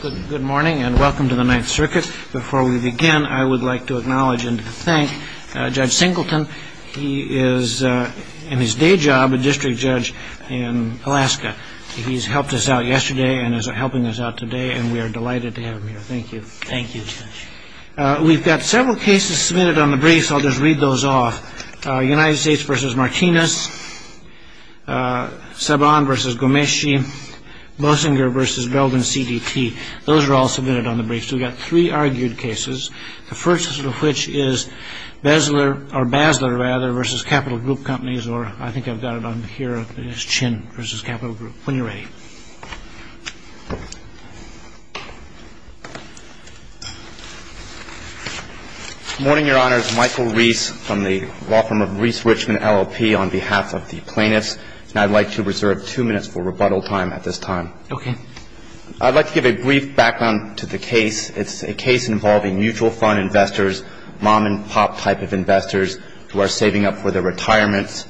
Good morning and welcome to the Ninth Circuit. Before we begin, I would like to acknowledge and thank Judge Singleton. He is in his day job, a district judge in Alaska. He's helped us out yesterday and is helping us out today. And we are delighted to have him here. Thank you. Thank you. We've got several cases submitted on the briefs. I'll just read those off. United States v. Martinez, Saban v. Gomeshi, Boesinger v. Belden CDT. Those are all submitted on the briefs. We've got three argued cases, the first of which is Basler v. Capital Group Companies, or I think I've got it on here, Chin v. Capital Group. When you're ready. Good morning, Your Honors. Michael Reese from the law firm of Reese Richmond LLP on behalf of the plaintiffs. And I'd like to reserve two minutes for rebuttal time at this time. OK. I'd like to give a brief background to the case. It's a case involving mutual fund investors, mom and pop type of investors who are saving up for their retirements.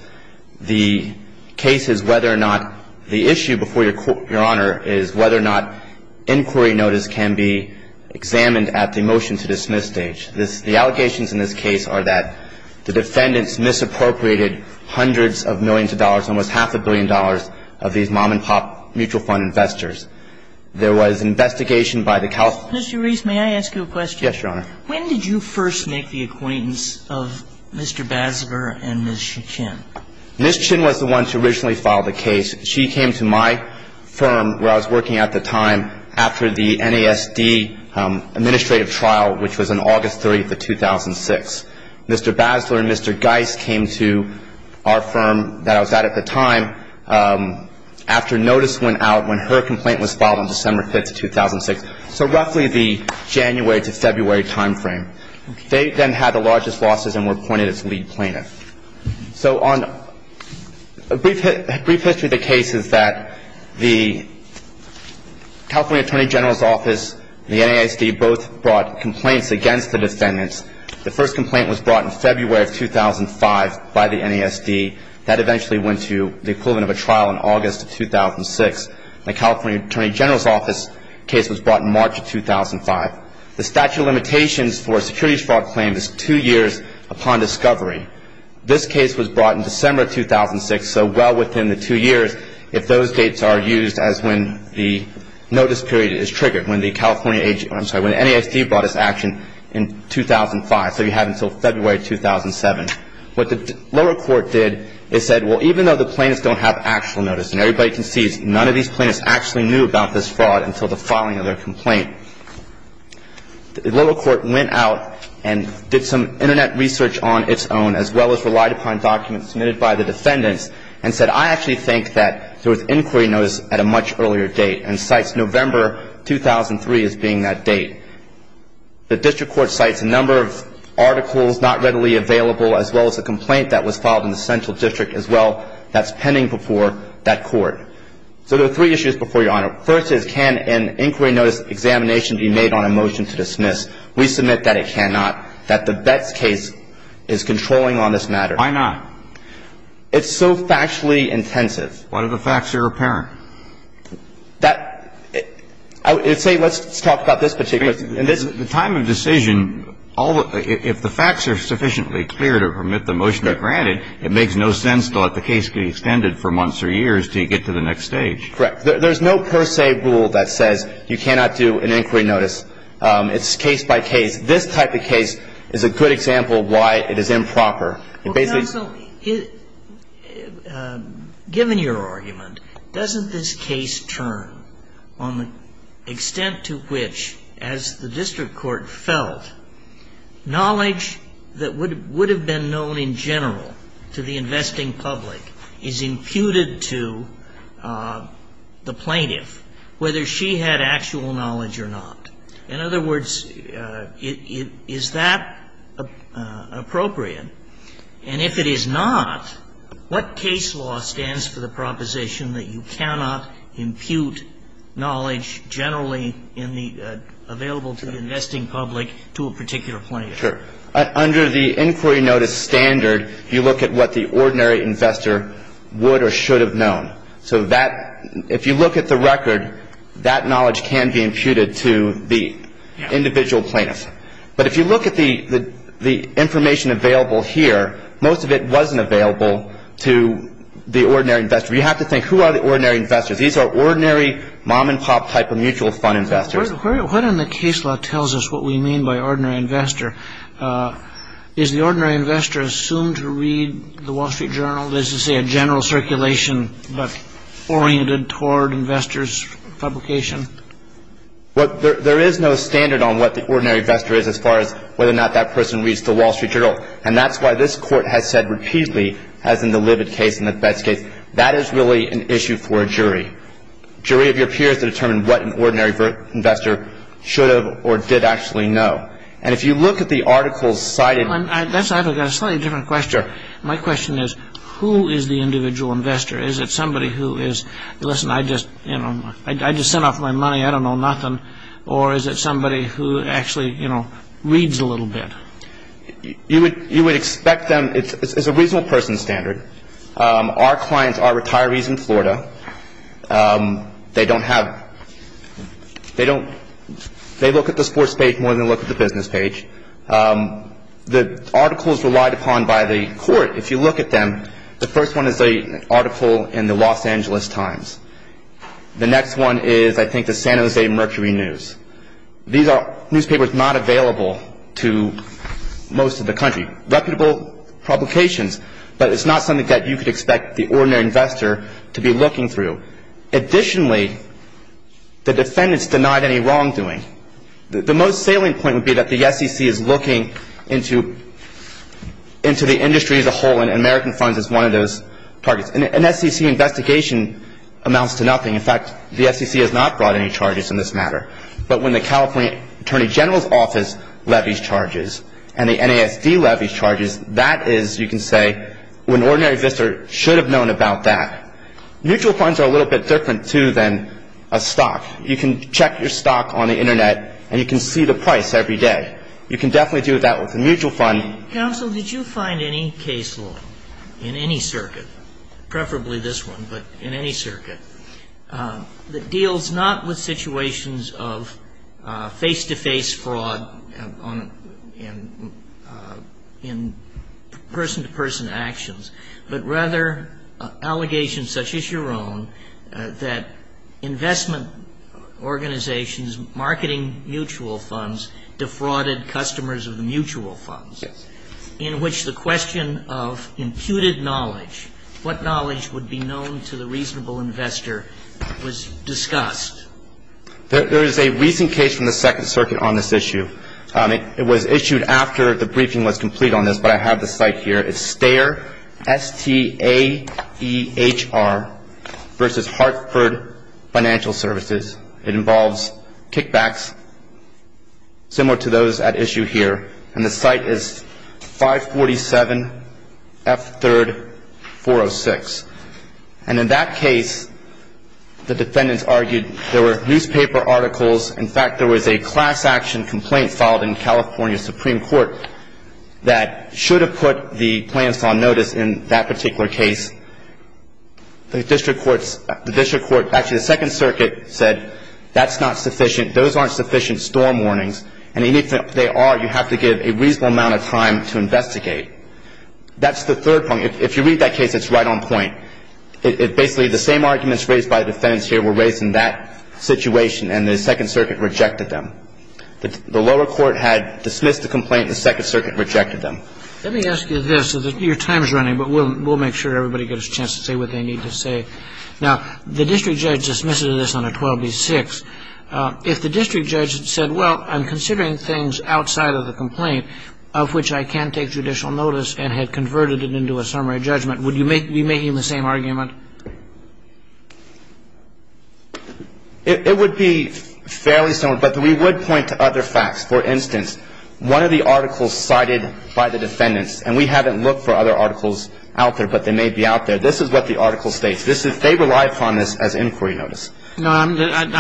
The case is whether or not the issue before Your Honor is whether or not inquiry notice can be examined at the motion-to-dismiss stage. The allegations in this case are that the defendants misappropriated hundreds of millions of dollars, almost half a billion dollars of these mom-and-pop mutual fund investors. There was investigation by the counsel. Mr. Reese, may I ask you a question? Yes, Your Honor. When did you first make the acquaintance of Mr. Basler and Ms. Chin? Ms. Chin was the one to originally file the case. She came to my firm where I was working at the time after the NASD administrative trial, which was on August 30th of 2006. Mr. Basler and Mr. Geis came to our firm that I was at at the time after notice went out when her complaint was filed on December 5th of 2006. So roughly the January to February time frame. They then had the largest losses and were appointed as lead plaintiff. So on a brief history of the cases that the California Attorney General's Office and the NASD both brought complaints against the defendants. The first complaint was brought in February of 2005 by the NASD. That eventually went to the equivalent of a trial in August of 2006. The California Attorney General's Office case was brought in March of 2005. The statute of limitations for securities fraud claims is two years upon discovery. This case was brought in December of 2006, so well within the two years if those dates are used as when the notice period is triggered, when the California, I'm sorry, when the NASD brought its action in 2005. So you have until February 2007. What the lower court did is said, well, even though the plaintiffs don't have actual notice, and everybody can see none of these plaintiffs actually knew about this fraud until the filing of their complaint. The lower court went out and did some internet research on its own, as well as relied upon documents submitted by the defendants and said, I actually think that there was inquiry notice at a much earlier date and cites November 2003 as being that date. The district court cites a number of articles not readily available, as well as a complaint that was filed in the central district as well that's pending before that court. So there are three issues before Your Honor. First is, can an inquiry notice examination be made on a motion to dismiss? We submit that it cannot. That the Betts case is controlling on this matter. Why not? It's so factually intensive. What if the facts are apparent? That, I would say, let's talk about this particular case. The time of decision, if the facts are sufficiently clear to permit the motion to be granted, it makes no sense to let the case be extended for months or years to get to the next stage. Correct. There's no per se rule that says you cannot do an inquiry notice. It's case by case. This type of case is a good example of why it is improper. It basically- Counsel, given your argument, doesn't this case turn on the extent to which, as the district court felt, knowledge that would have been known in general to the investing public is imputed to the plaintiff, whether she had actual knowledge or not. In other words, is that appropriate? And if it is not, what case law stands for the proposition that you cannot impute knowledge generally available to the investing public to a particular plaintiff? Sure. Under the inquiry notice standard, you look at what the ordinary investor would or should have known. So if you look at the record, that knowledge can be imputed to the individual plaintiff. But if you look at the information available here, most of it wasn't available to the ordinary investor. You have to think, who are the ordinary investors? These are ordinary mom-and-pop type of mutual fund investors. What in the case law tells us what we mean by ordinary investor? Is the ordinary investor assumed to read the Wall Street Journal? Does it say a general circulation, but oriented toward investors' publication? There is no standard on what the ordinary investor is as far as whether or not that person reads the Wall Street Journal. And that's why this Court has said repeatedly, as in the Libid case and the Betz case, that is really an issue for a jury. Jury of your peers to determine what an ordinary investor should have or did actually know. And if you look at the articles cited... I've got a slightly different question. My question is, who is the individual investor? Is it somebody who is, listen, I just, you know, I just sent off my money, I don't know nothing. Or is it somebody who actually, you know, reads a little bit? You would expect them, it's a reasonable person standard. Our clients are retirees in Florida. They don't have, they don't, they look at the sports page more than they look at the business page. The articles relied upon by the Court, if you look at them, the first one is an article in the Los Angeles Times. The next one is, I think, the San Jose Mercury News. These are newspapers not available to most of the country. Reputable publications, but it's not something that you could expect the ordinary investor to be looking through. Additionally, the defendants denied any wrongdoing. The most salient point would be that the SEC is looking into the industry as a whole, and American Funds is one of those targets. An SEC investigation amounts to nothing. In fact, the SEC has not brought any charges in this matter. But when the California Attorney General's Office levies charges and the NASD levies charges, that is, you can say, what an ordinary investor should have known about that. Mutual funds are a little bit different, too, than a stock. You can check your stock on the Internet, and you can see the price every day. You can definitely do that with a mutual fund. Counsel, did you find any case law in any circuit, preferably this one, but in any circuit, that deals not with situations of face-to-face fraud in person-to-person actions, but rather allegations such as your own that investment organizations marketing mutual funds defrauded customers of mutual funds, in which the question of imputed knowledge, what knowledge would be known to the reasonable investor, was discussed? There is a recent case from the Second Circuit on this issue. It was issued after the briefing was complete on this, but I have the site here. It's Staehr, S-T-A-E-H-R, versus Hartford Financial Services. It involves kickbacks, similar to those at issue here, and the site is 547F3-406. And in that case, the defendants argued there were newspaper articles, in fact, there was a class action complaint filed in California Supreme Court that should have put the plaintiffs on notice in that particular case. The District Court, actually the Second Circuit said that's not sufficient, those aren't sufficient storm warnings, and even if they are, you have to give a reasonable amount of time to investigate. That's the third point, if you read that case, it's right on point. It basically, the same arguments raised by the defendants here were raised in that situation, and the Second Circuit rejected them. The lower court had dismissed the complaint, the Second Circuit rejected them. Let me ask you this, as your time is running, but we'll make sure everybody gets a chance to say what they need to say. Now, the district judge dismisses this on a 12B6. If the district judge had said, well, I'm considering things outside of the complaint of which I can't take judicial notice and had converted it into a summary judgment, would you be making the same argument? It would be fairly similar, but we would point to other facts. For instance, one of the articles cited by the defendants, and we haven't looked for other articles out there, but they may be out there. This is what the article states. This is, they rely upon this as inquiry notice. Now,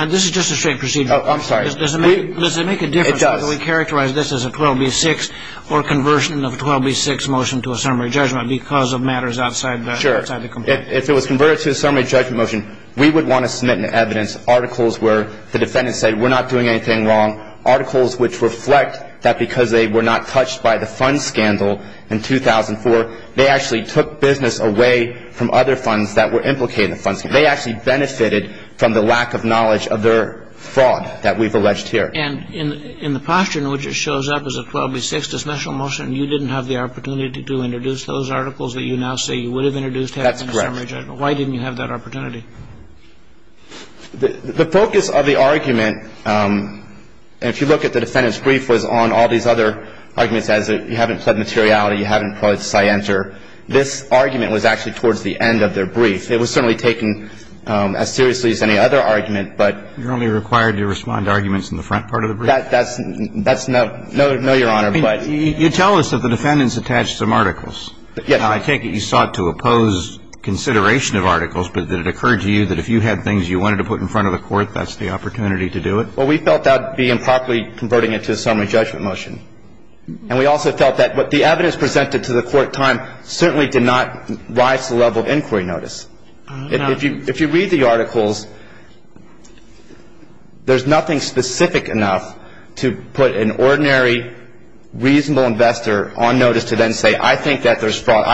this is just a straight procedure. Oh, I'm sorry. Does it make a difference whether we characterize this as a 12B6 or conversion of a 12B6 motion to a summary judgment because of matters outside the complaint? If it was converted to a summary judgment motion, we would want to submit an evidence, articles where the defendants say we're not doing anything wrong, articles which reflect that because they were not touched by the fund scandal in 2004, they actually took business away from other funds that were implicated in the fund scandal. They actually benefited from the lack of knowledge of their fraud that we've alleged here. And in the posture in which it shows up as a 12B6 dismissal motion, you didn't have the opportunity to introduce those articles that you now say you would have introduced had it been a summary judgment. Why didn't you have that opportunity? The focus of the argument, and if you look at the defendant's brief, was on all these other arguments as you haven't pled materiality, you haven't pled scienter. This argument was actually towards the end of their brief. It was certainly taken as seriously as any other argument, but you're only required to respond to arguments in the front part of the brief. That's no, no, Your Honor, but. You tell us that the defendants attached some articles. Yes. I take it you sought to oppose consideration of articles, but that it occurred to you that if you had things you wanted to put in front of the court, that's the opportunity to do it? Well, we felt that would be improperly converting it to a summary judgment motion. And we also felt that what the evidence presented to the court at the time certainly did not rise to the level of inquiry notice. If you read the articles, there's nothing specific enough to put an ordinary, reasonable investor on notice to then say, I think that there's fraud.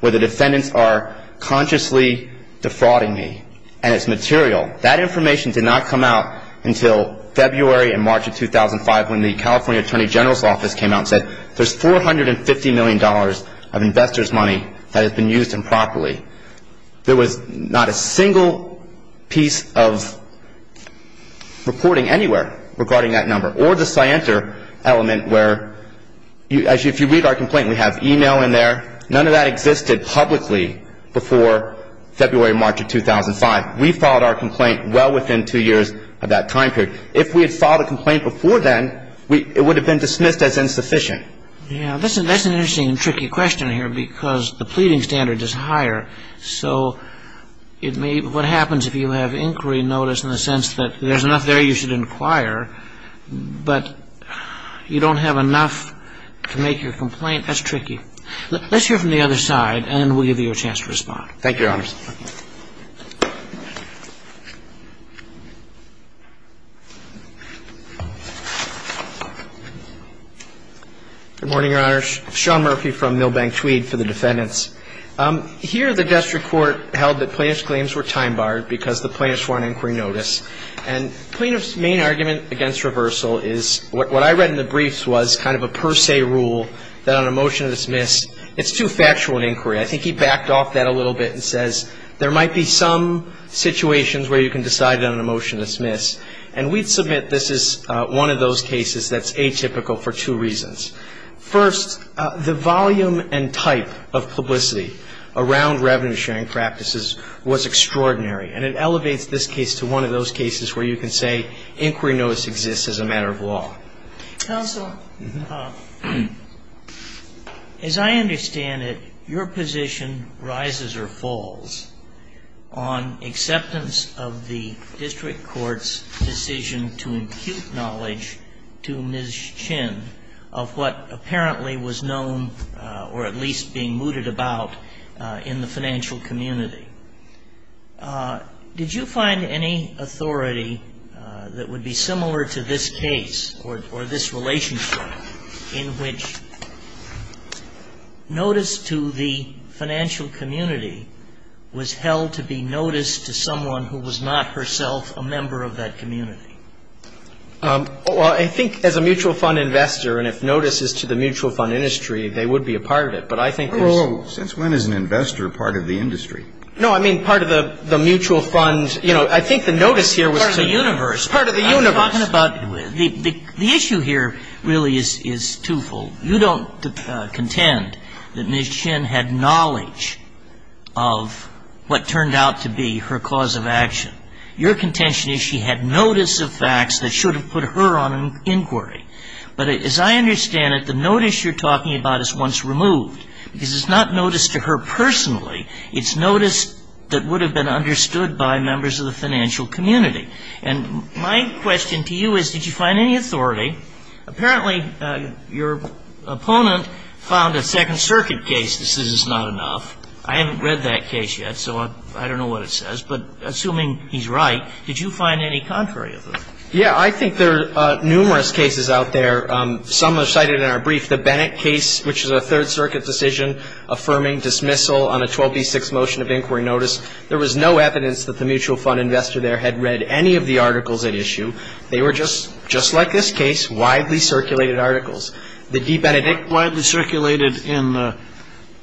Where the defendants are consciously defrauding me, and it's material. That information did not come out until February and March of 2005 when the California Attorney General's office came out and said, there's $450 million of investors' money that has been used improperly. There was not a single piece of reporting anywhere regarding that number. Or the scienter element, where if you read our complaint, we have email in there. None of that existed publicly before February, March of 2005. We filed our complaint well within two years of that time period. If we had filed a complaint before then, it would have been dismissed as insufficient. Yeah, that's an interesting and tricky question here, because the pleading standard is higher. So what happens if you have inquiry notice in the sense that there's enough there you should inquire, but you don't have enough to make your complaint? That's tricky. Let's hear from the other side, and then we'll give you a chance to respond. Thank you, Your Honors. Good morning, Your Honors. Sean Murphy from Milbank Tweed for the defendants. Here, the district court held that plaintiff's claims were time barred because the plaintiffs were on inquiry notice. And plaintiff's main argument against reversal is what I read in the briefs was kind of a per se rule that on a motion to dismiss, it's too factual an inquiry. I think he backed off that a little bit and says, there might be some situations where you can decide on a motion to dismiss. And we'd submit this is one of those cases that's atypical for two reasons. First, the volume and type of publicity around revenue sharing practices was extraordinary. And it elevates this case to one of those cases where you can say inquiry notice exists as a matter of law. Counsel, as I understand it, your position rises or falls on acceptance of the district court's decision to impute knowledge to Ms. Chin of what apparently was known, or at least being mooted about, in the financial community. Did you find any authority that would be similar to this case or this relationship in which notice to the financial community was held to be notice to someone who was not herself a member of that community? Well, I think as a mutual fund investor, and if notice is to the mutual fund industry, they would be a part of it. But I think there's- Since when is an investor part of the industry? No, I mean part of the mutual fund, I think the notice here was to- Part of the universe. Part of the universe. I'm talking about, the issue here really is twofold. You don't contend that Ms. Chin had knowledge of what turned out to be her cause of action. Your contention is she had notice of facts that should have put her on inquiry. But as I understand it, the notice you're talking about is once removed. Because it's not notice to her personally, it's notice that would have been understood by members of the financial community. And my question to you is, did you find any authority? Apparently, your opponent found a Second Circuit case that says it's not enough. I haven't read that case yet, so I don't know what it says. But assuming he's right, did you find any contrary authority? Yeah, I think there are numerous cases out there. Some are cited in our brief. The Bennett case, which is a Third Circuit decision affirming dismissal on a 12B6 motion of inquiry notice. There was no evidence that the mutual fund investor there had read any of the articles at issue. They were just like this case, widely circulated articles. The D. Benedict- Widely circulated in the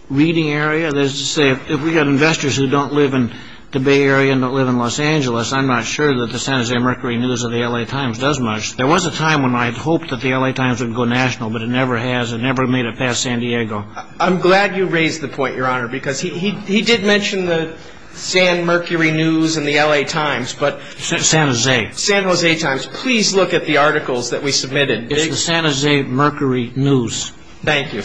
reading area. There's a saying, if we've got investors who don't live in the Bay Area and don't live in Los Angeles, I'm not sure that the San Jose Mercury News or the L.A. Times does much. There was a time when I'd hoped that the L.A. Times would go national, but it never has. It never made it past San Diego. I'm glad you raised the point, Your Honor, because he did mention the San Mercury News and the L.A. Times, but- San Jose. San Jose Times. Please look at the articles that we submitted. It's the San Jose Mercury News. Thank you.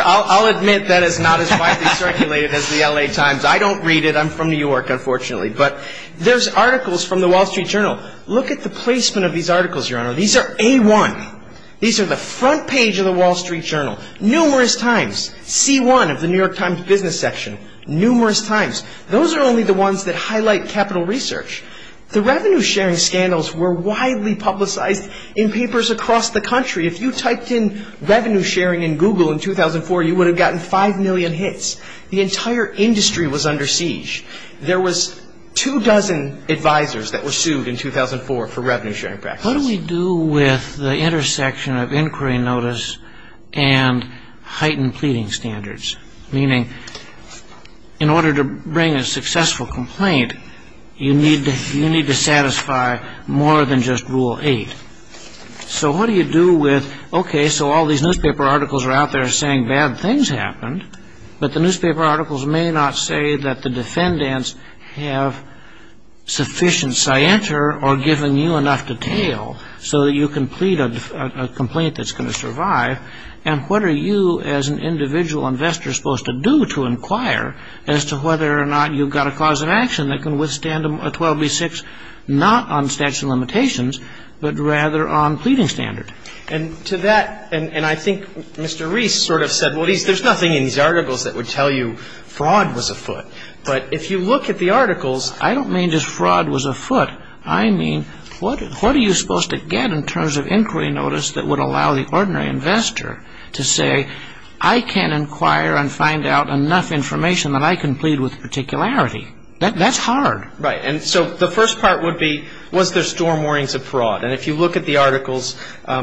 I'll admit that it's not as widely circulated as the L.A. Times. I don't read it. I'm from New York, unfortunately. But there's articles from the Wall Street Journal. Look at the placement of these articles, Your Honor. These are A1. These are the front page of the Wall Street Journal. Numerous times. C1 of the New York Times Business Section. Numerous times. Those are only the ones that highlight capital research. The revenue sharing scandals were widely publicized in papers across the country. If you typed in revenue sharing in Google in 2004, you would have gotten 5 million hits. The entire industry was under siege. There was two dozen advisors that were sued in 2004 for revenue sharing practices. What do we do with the intersection of inquiry notice and heightened pleading standards? Meaning, in order to bring a successful complaint, you need to satisfy more than just Rule 8. So what do you do with, okay, so all these newspaper articles are out there saying bad things happened. But the newspaper articles may not say that the defendants have sufficient scienter or given you enough detail so that you can plead a complaint that's going to survive. And what are you, as an individual investor, supposed to do to inquire as to whether or not you've got a cause of action that can withstand a 12B6, not on statute of limitations, but rather on pleading standard? And to that, and I think Mr. Reese sort of said, well, there's nothing in these articles that would tell you fraud was afoot. But if you look at the articles, I don't mean just fraud was afoot. I mean, what are you supposed to get in terms of inquiry notice that would allow the ordinary investor to say, I can inquire and find out enough information that I can plead with particularity? That's hard. Right. And so the first part would be, was there storm warnings of fraud? And if you look at the articles,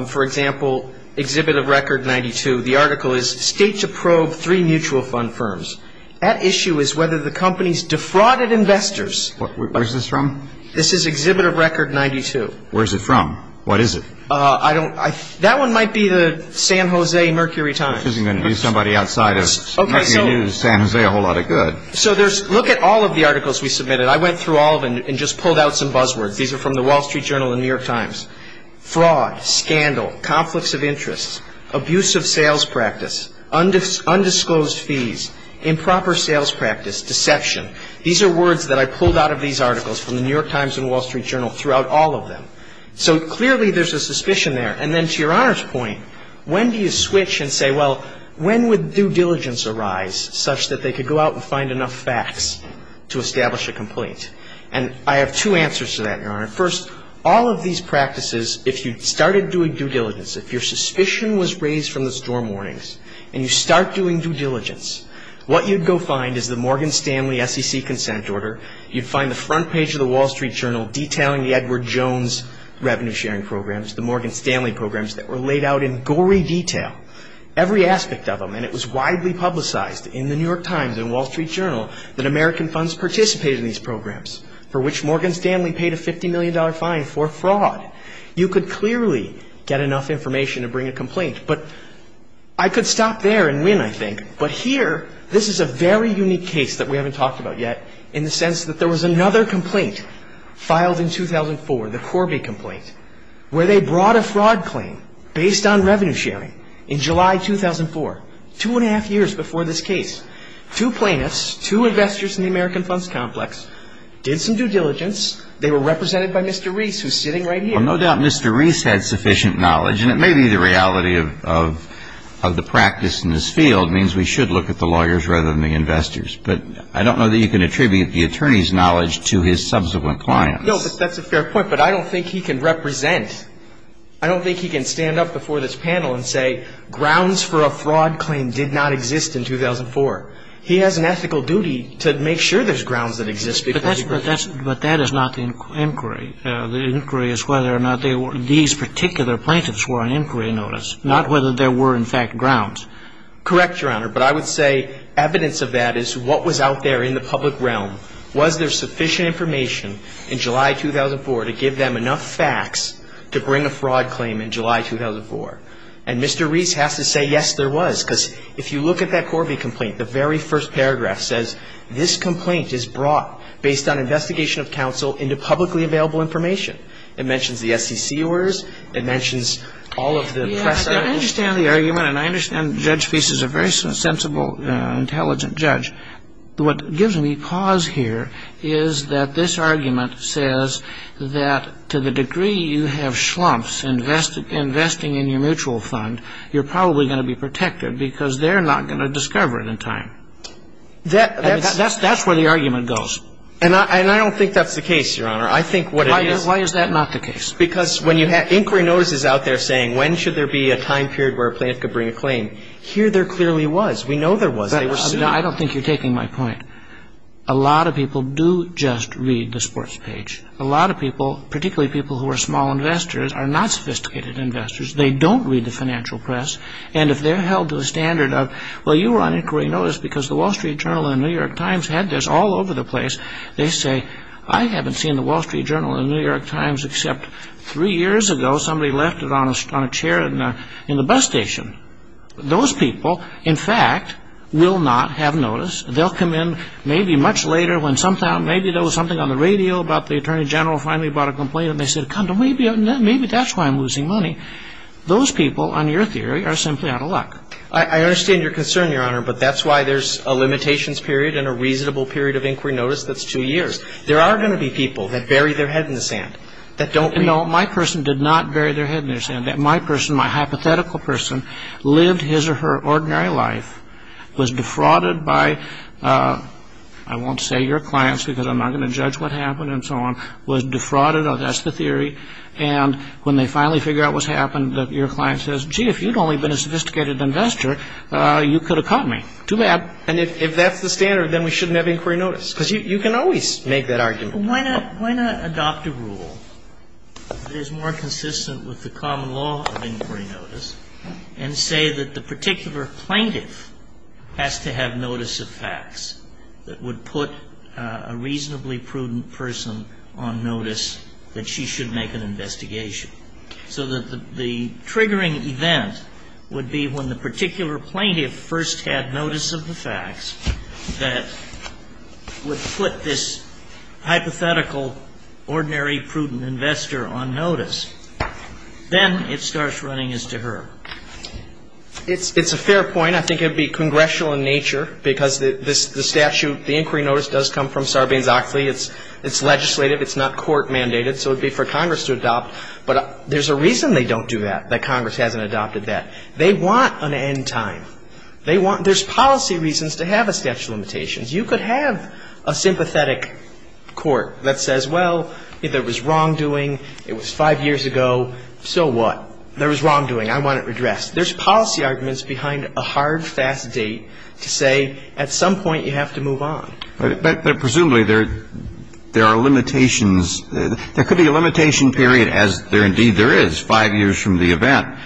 for example, Exhibit of Record 92, the article is state to probe three mutual fund firms. At issue is whether the companies defrauded investors. Where's this from? This is Exhibit of Record 92. Where's it from? What is it? I don't, that one might be the San Jose Mercury Times. This isn't going to be somebody outside of, not going to use San Jose a whole lot of good. So there's, look at all of the articles we submitted. I went through all of them and just pulled out some buzzwords. These are from the Wall Street Journal and New York Times. Fraud, scandal, conflicts of interest, abuse of sales practice, undisclosed fees, improper sales practice, deception. These are words that I pulled out of these articles from the New York Times and Wall Street Journal throughout all of them. So clearly there's a suspicion there. And then to Your Honor's point, when do you switch and say, well, when would due diligence arise such that they could go out and find enough facts to establish a complaint? And I have two answers to that, Your Honor. First, all of these practices, if you started doing due diligence, if your suspicion was raised from the storm warnings and you start doing due diligence, what you'd go find is the Morgan Stanley SEC consent order. You'd find the front page of the Wall Street Journal detailing the Edward Jones revenue sharing programs. The Morgan Stanley programs that were laid out in gory detail, every aspect of them. And it was widely publicized in the New York Times and Wall Street Journal that American funds participated in these programs for which Morgan Stanley paid a $50 million fine for fraud. You could clearly get enough information to bring a complaint. But I could stop there and win, I think. But here, this is a very unique case that we haven't talked about yet in the sense that there was another complaint filed in 2004, the Corby complaint, where they brought a fraud claim based on revenue sharing in July 2004, two and a half years before this case. Two plaintiffs, two investors in the American funds complex, did some due diligence. They were represented by Mr. Reese, who's sitting right here. So no doubt Mr. Reese had sufficient knowledge, and it may be the reality of the practice in this field, means we should look at the lawyers rather than the investors. But I don't know that you can attribute the attorney's knowledge to his subsequent clients. No, but that's a fair point. But I don't think he can represent, I don't think he can stand up before this panel and say, grounds for a fraud claim did not exist in 2004. He has an ethical duty to make sure there's grounds that exist. But that is not the inquiry. The inquiry is whether or not these particular plaintiffs were on inquiry notice, not whether there were, in fact, grounds. Correct, Your Honor. But I would say evidence of that is what was out there in the public realm. Was there sufficient information in July 2004 to give them enough facts to bring a fraud claim in July 2004? And Mr. Reese has to say, yes, there was. Because if you look at that Corby complaint, the very first paragraph says, this complaint is brought based on investigation of counsel into publicly available information. It mentions the SEC orders. It mentions all of the press. I understand the argument, and I understand Judge Reese is a very sensible, intelligent judge. What gives me pause here is that this argument says that to the degree you have schlumps investing in your mutual fund, you're probably going to be protected because they're not going to discover it in time. That's where the argument goes. And I don't think that's the case, Your Honor. I think what it is Why is that not the case? Because when you have inquiry notices out there saying, when should there be a time period where a plaintiff could bring a claim, here there clearly was. We know there was. I don't think you're taking my point. A lot of people do just read the sports page. A lot of people, particularly people who are small investors, are not sophisticated investors. They don't read the financial press. And if they're held to a standard of, well, you were on inquiry notice because the Wall Street Journal and the New York Times had this all over the place, they say, I haven't seen the Wall Street Journal and the New York Times except three years ago somebody left it on a chair in the bus station. Those people, in fact, will not have notice. They'll come in maybe much later when maybe there was something on the radio about the attorney general finally brought a complaint. And they said, maybe that's why I'm losing money. Those people, on your theory, are simply out of luck. I understand your concern, Your Honor. But that's why there's a limitations period and a reasonable period of inquiry notice that's two years. There are going to be people that bury their head in the sand, that don't read. No, my person did not bury their head in the sand. My person, my hypothetical person, lived his or her ordinary life, was defrauded by, I won't say your clients because I'm not going to judge what happened and so on, was defrauded, that's the theory, and when they finally figure out what's happened, that your client says, gee, if you'd only been a sophisticated investor, you could have caught me. Too bad. And if that's the standard, then we shouldn't have inquiry notice. Because you can always make that argument. Why not adopt a rule that is more consistent with the common law of inquiry notice and say that the particular plaintiff has to have notice of facts that would put a reasonably prudent person on notice that she should make an investigation. So that the triggering event would be when the particular plaintiff first had notice of the facts that would put this hypothetical, ordinary, prudent investor on notice. Then it starts running as to her. It's a fair point. I think it would be congressional in nature because the statute, the inquiry notice does come from Sarbanes-Oxley. It's legislative. It's not court mandated. So it would be for Congress to adopt. But there's a reason they don't do that, that Congress hasn't adopted that. They want an end time. They want, there's policy reasons to have a statute of limitations. You could have a sympathetic court that says, well, there was wrongdoing. It was five years ago. So what? There was wrongdoing. I want it redressed. There's policy arguments behind a hard, fast date to say at some point you have to move on. But presumably there are limitations. There could be a limitation period as there indeed there is, five years from the event.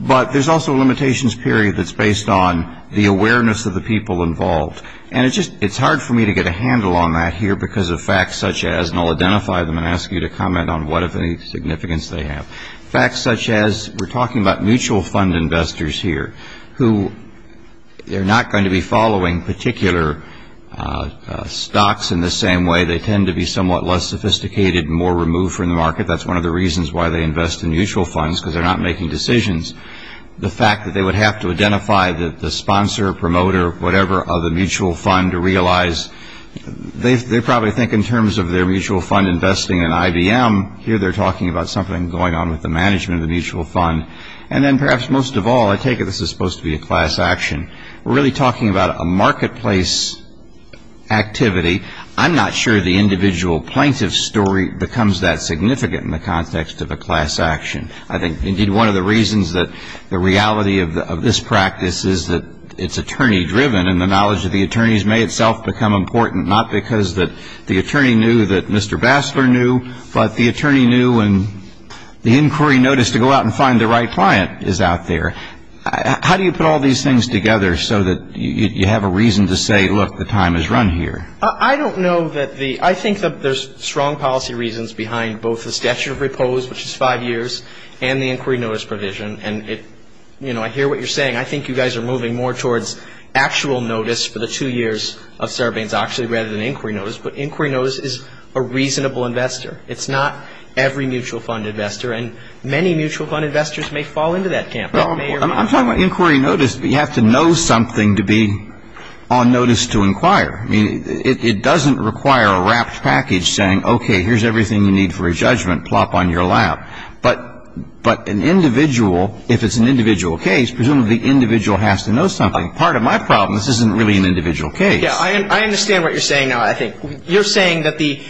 But there's also a limitations period that's based on the awareness of the people involved. And it's just, it's hard for me to get a handle on that here because of facts such as, and I'll identify them and ask you to comment on what significance they have. Facts such as we're talking about mutual fund investors here who they're not going to be following particular stocks in the same way. They tend to be somewhat less sophisticated and more removed from the market. That's one of the reasons why they invest in mutual funds because they're not making decisions. The fact that they would have to identify the sponsor, promoter, whatever of the mutual fund to realize, they probably think in terms of their mutual fund investing in IBM, here they're talking about something going on with the management of the mutual fund. And then perhaps most of all, I take it this is supposed to be a class action. We're really talking about a marketplace activity. I'm not sure the individual plaintiff's story becomes that significant in the context of a class action. I think indeed one of the reasons that the reality of this practice is that it's attorney driven and the knowledge of the attorneys may itself become important, not because that the attorney knew that Mr. Bassler knew, but the attorney knew and the inquiry notice to go out and find the right client is out there. How do you put all these things together so that you have a reason to say, look, the time is run here? I don't know that the, I think that there's strong policy reasons behind both the statute of repose, which is five years, and the inquiry notice provision. And it, you know, I hear what you're saying. I think you guys are moving more towards actual notice for the two years of surveillance actually rather than inquiry notice. But inquiry notice is a reasonable investor. It's not every mutual fund investor. And many mutual fund investors may fall into that camp. Well, I'm talking about inquiry notice. You have to know something to be on notice to inquire. I mean, it doesn't require a wrapped package saying, okay, here's everything you need for a judgment plop on your lap. But an individual, if it's an individual case, presumably the individual has to know something. Part of my problem, this isn't really an individual case. Yeah, I understand what you're saying now, I think. You're saying that the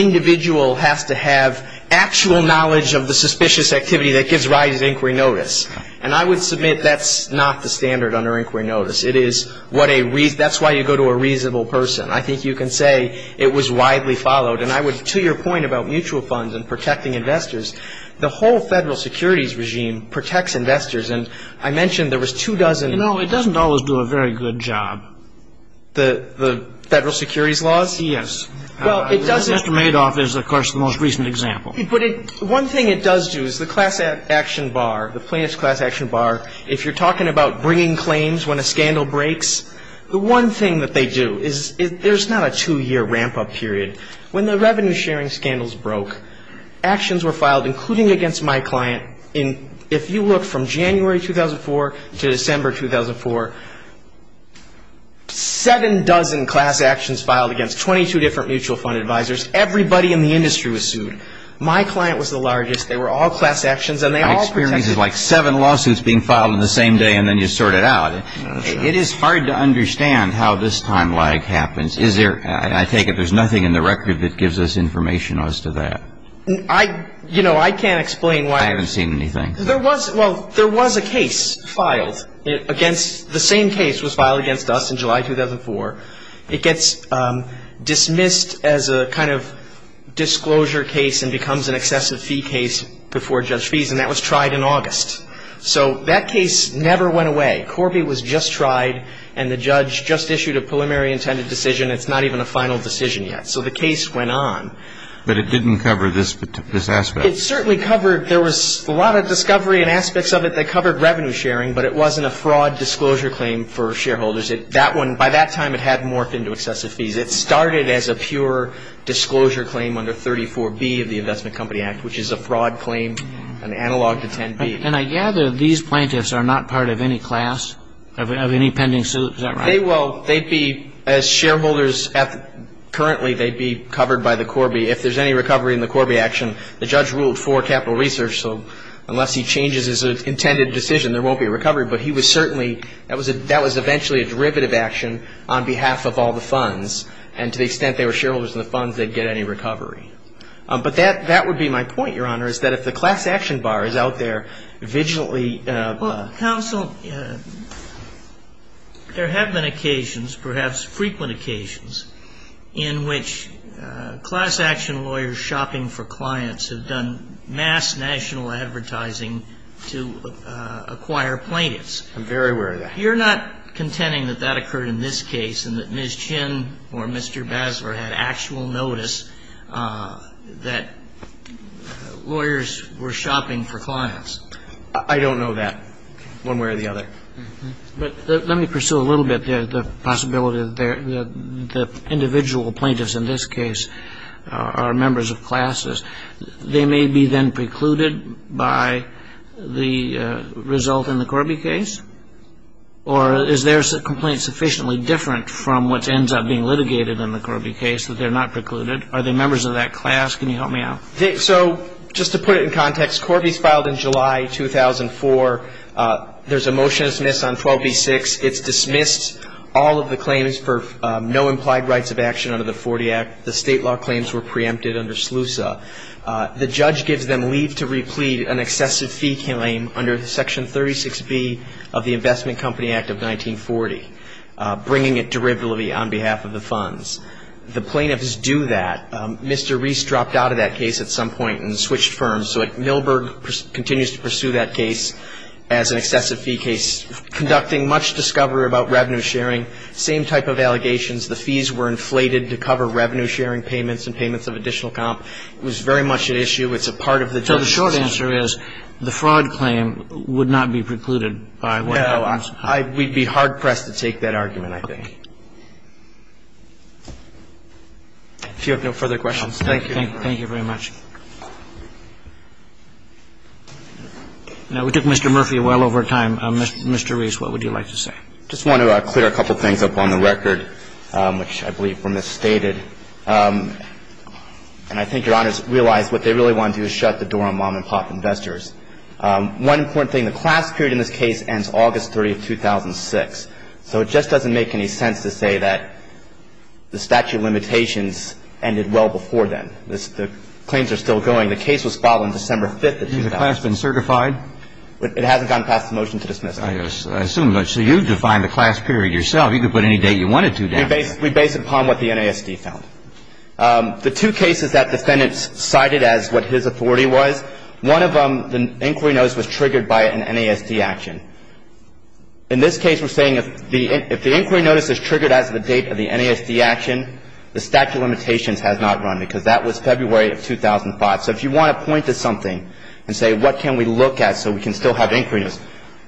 individual has to have actual knowledge of the suspicious activity that gives rise to inquiry notice. And I would submit that's not the standard under inquiry notice. It is what a reason, that's why you go to a reasonable person. I think you can say it was widely followed. And I would, to your point about mutual funds and protecting investors, the whole Federal Securities regime protects investors. And I mentioned there was two dozen. You know, it doesn't always do a very good job. The Federal Securities laws? Yes. Well, it doesn't. Mr. Madoff is, of course, the most recent example. But one thing it does do is the class action bar, the plaintiff's class action bar, if you're talking about bringing claims when a scandal breaks, the one thing that they do is there's not a two-year ramp-up period. When the revenue-sharing scandals broke, actions were filed, including against my client, and if you look from January 2004 to December 2004, seven dozen class actions filed against 22 different mutual fund advisors, everybody in the industry was sued. My client was the largest. They were all class actions, and they all protected me. I have experiences like seven lawsuits being filed in the same day, and then you sort it out. It is hard to understand how this time lag happens. Is there, I take it there's nothing in the record that gives us information as to that? I, you know, I can't explain why. I haven't seen anything. There was, well, there was a case filed against, the same case was filed against us in July 2004. It gets dismissed as a kind of disclosure case and becomes an excessive fee case before judge fees, and that was tried in August, so that case never went away. Corby was just tried, and the judge just issued a preliminary intended decision. It's not even a final decision yet, so the case went on. But it didn't cover this aspect? It certainly covered, there was a lot of discovery and aspects of it that covered revenue-sharing, but it wasn't a fraud disclosure claim for shareholders. That one, by that time, it had morphed into excessive fees. It started as a pure disclosure claim under 34B of the Investment Company Act, which is a fraud claim, an analog to 10B. And I gather these plaintiffs are not part of any class, of any pending suit, is that right? They will, they'd be, as shareholders currently, they'd be covered by the Corby. If there's any recovery in the Corby action, the judge ruled for capital research, so unless he changes his intended decision, there won't be a recovery. But he would certainly, that was eventually a derivative action on behalf of all the funds, and to the extent they were shareholders in the funds, they'd get any recovery. But that would be my point, Your Honor, is that if the class action bar is out there vigilantly. Well, counsel, there have been occasions, perhaps frequent occasions, in which class action lawyers shopping for clients have done mass national advertising to acquire plaintiffs. I'm very aware of that. You're not contending that that occurred in this case, and that Ms. Chin or Mr. Basler had actual notice that lawyers were shopping for clients? I don't know that, one way or the other. But let me pursue a little bit the possibility that the individual plaintiffs in this case are members of classes. They may be then precluded by the result in the Corby case? Or is their complaint sufficiently different from what ends up being litigated in the Corby case, that they're not precluded? Are they members of that class? Can you help me out? So just to put it in context, Corby's filed in July 2004. There's a motion to dismiss on 12B6. It's dismissed all of the claims for no implied rights of action under the 40 Act. The state law claims were preempted under SLUSA. The judge gives them leave to replete an excessive fee claim under Section 36B of the Investment Company Act of 1940, bringing it derivatively on behalf of the funds. The plaintiffs do that. Mr. Reese dropped out of that case at some point and switched firms. So Millberg continues to pursue that case as an excessive fee case, conducting much discovery about revenue sharing, same type of allegations. The fees were inflated to cover revenue sharing payments and payments of additional comp. It was very much an issue. It's a part of the judge's case. So the short answer is the fraud claim would not be precluded by what happens? No. We'd be hard pressed to take that argument, I think. Okay. If you have no further questions, thank you. Thank you very much. Now, we took Mr. Murphy well over time. Mr. Reese, what would you like to say? I just want to clear a couple of things up on the record, which I believe were misstated. And I think Your Honors realize what they really want to do is shut the door on mom and pop investors. One important thing, the class period in this case ends August 30, 2006. So it just doesn't make any sense to say that the statute of limitations ended well before then. The claims are still going. The case was filed on December 5th of 2006. Has the class been certified? It hasn't gone past the motion to dismiss it. I assume not. So you've defined the class period yourself. You could put any date you wanted to down there. We base it upon what the NASD found. The two cases that defendants cited as what his authority was, one of them, the inquiry notice was triggered by an NASD action. In this case, we're saying if the inquiry notice is triggered as the date of the NASD action, the statute of limitations has not run, because that was February of 2005. So if you want to point to something and say, what can we look at so we can still have inquiry notice?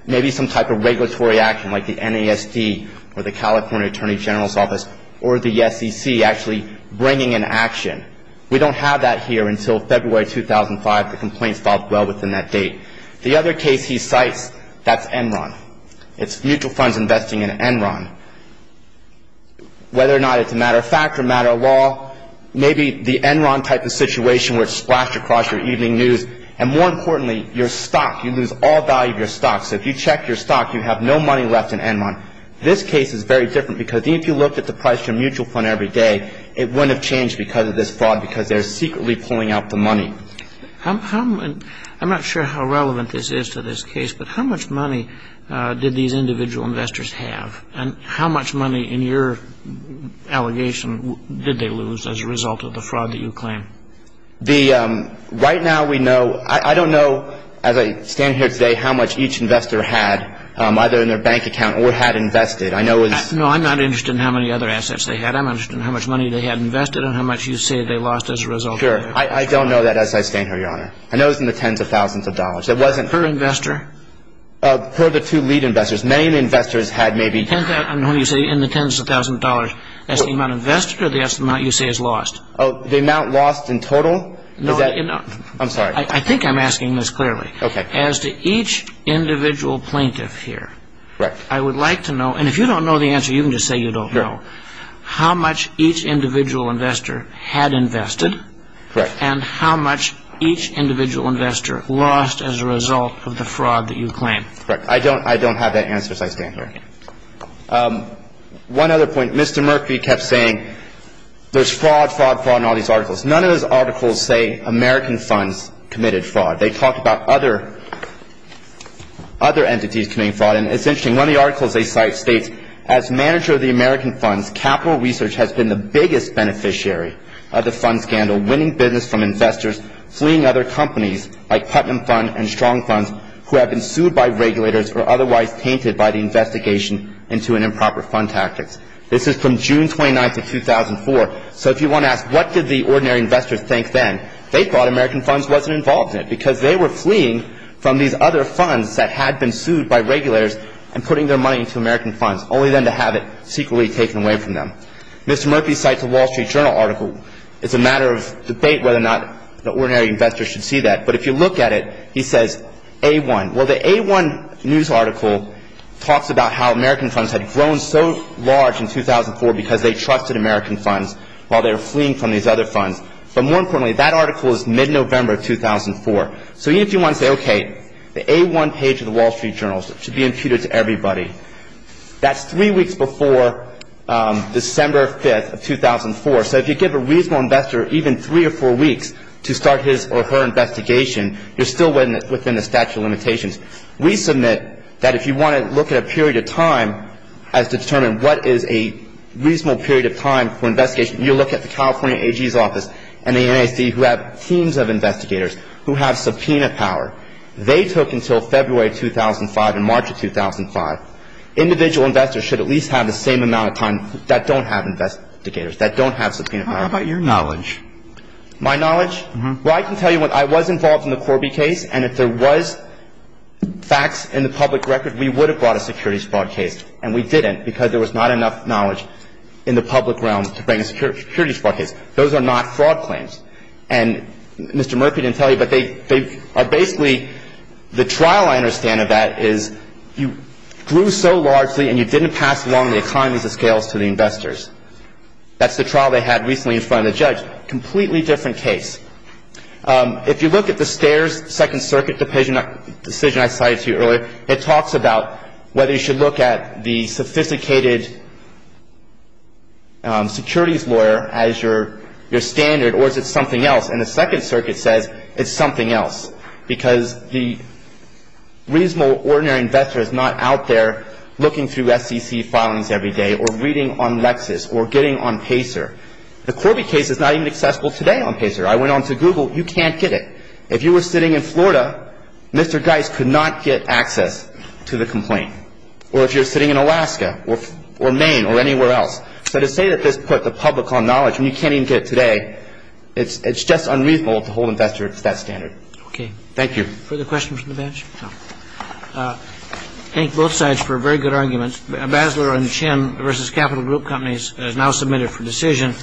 Maybe some type of regulatory action like the NASD or the California Attorney General's Office or the SEC actually bringing an action. We don't have that here until February 2005. The complaint's filed well within that date. The other case he cites, that's Enron. It's mutual funds investing in Enron. Whether or not it's a matter of fact or a matter of law, maybe the Enron type of situation would splash across your evening news. And more importantly, you're stuck. You lose all value of your stock. So if you check your stock, you have no money left in Enron. This case is very different, because even if you looked at the price of your mutual fund every day, it wouldn't have changed because of this fraud, because they're secretly pulling out the money. I'm not sure how relevant this is to this case, but how much money did these individual investors have? And how much money, in your allegation, did they lose as a result of the fraud that you claim? The, right now we know, I don't know, as I stand here today, how much each investor had, either in their bank account or had invested. I know it's... No, I'm not interested in how many other assets they had. I'm interested in how much money they had invested and how much you say they lost as a result of the fraud. Sure. I don't know that as I stand here, Your Honor. I know it's in the tens of thousands of dollars. It wasn't... Per investor? Per the two lead investors. Many of the investors had maybe... In the tens of thousands of dollars, that's the amount invested or that's the amount you say is lost? Oh, the amount lost in total? Is that... I'm sorry. I think I'm asking this clearly. Okay. As to each individual plaintiff here, I would like to know, and if you don't know the answer, you can just say you don't know, how much each individual investor had invested and how much each individual investor lost as a result of the fraud that you claim. Correct. I don't have that answer as I stand here. One other point. Mr. Mercury kept saying there's fraud, fraud, fraud in all these articles. None of those articles say American funds committed fraud. They talked about other entities committing fraud. And it's interesting. One of the articles they cite states, as manager of the American funds, capital research has been the biggest beneficiary of the fund scandal, winning business from investors, fleeing other companies like Putnam Fund and Strong Funds who have been sued by regulators or otherwise tainted by the investigation into an improper fund tactics. This is from June 29th of 2004. So if you want to ask, what did the ordinary investor think then? They thought American funds wasn't involved in it because they were fleeing from these other funds that had been sued by regulators and putting their money into American funds, only then to have it secretly taken away from them. Mr. Mercury cites a Wall Street Journal article. It's a matter of debate whether or not the ordinary investor should see that. But if you look at it, he says A1. Well, the A1 news article talks about how American funds had grown so large in 2004 because they trusted American funds while they were fleeing from these other funds. But more importantly, that article is mid-November of 2004. So even if you want to say, OK, the A1 page of the Wall Street Journal should be imputed to everybody, that's three weeks before December 5th of 2004. So if you give a reasonable investor even three or four weeks to start his or her investigation, you're still within the statute of limitations. We submit that if you want to look at a period of time as to determine what is a reasonable period of time for investigation, you look at the California AG's office and the NAC who have teams of investigators who have subpoena power. They took until February 2005 and March of 2005. Individual investors should at least have the same amount of time that don't have investigators, that don't have subpoena power. How about your knowledge? My knowledge? Well, I can tell you when I was involved in the Corby case and if there was facts in the public record, we would have brought a securities fraud case and we didn't because there was not enough knowledge in the public realm to bring a securities fraud case. Those are not fraud claims. And Mr. Murphy didn't tell you, but they are basically, the trial I understand of that is you grew so largely and you didn't pass along the economies of scales to the investors. That's the trial they had recently in front of the judge. Completely different case. If you look at the Steyer's Second Circuit decision I cited to you earlier, it talks about whether you should look at the sophisticated securities lawyer as your standard or is it something else. And the Second Circuit says it's something else because the reasonable ordinary investor is not out there looking through SEC filings every day or reading on Lexis or getting on Pacer. The Corby case is not even accessible today on Pacer. I went on to Google. You can't get it. If you were sitting in Florida, Mr. Geis could not get access to the complaint. Or if you're sitting in Alaska or Maine or anywhere else. So to say that this put the public on knowledge and you can't even get it today, it's just unreasonable to hold investors to that standard. Okay. Thank you. Further questions from the bench? No. Thank both sides for very good arguments. Basler and Chin versus Capital Group Companies is now submitted for decision.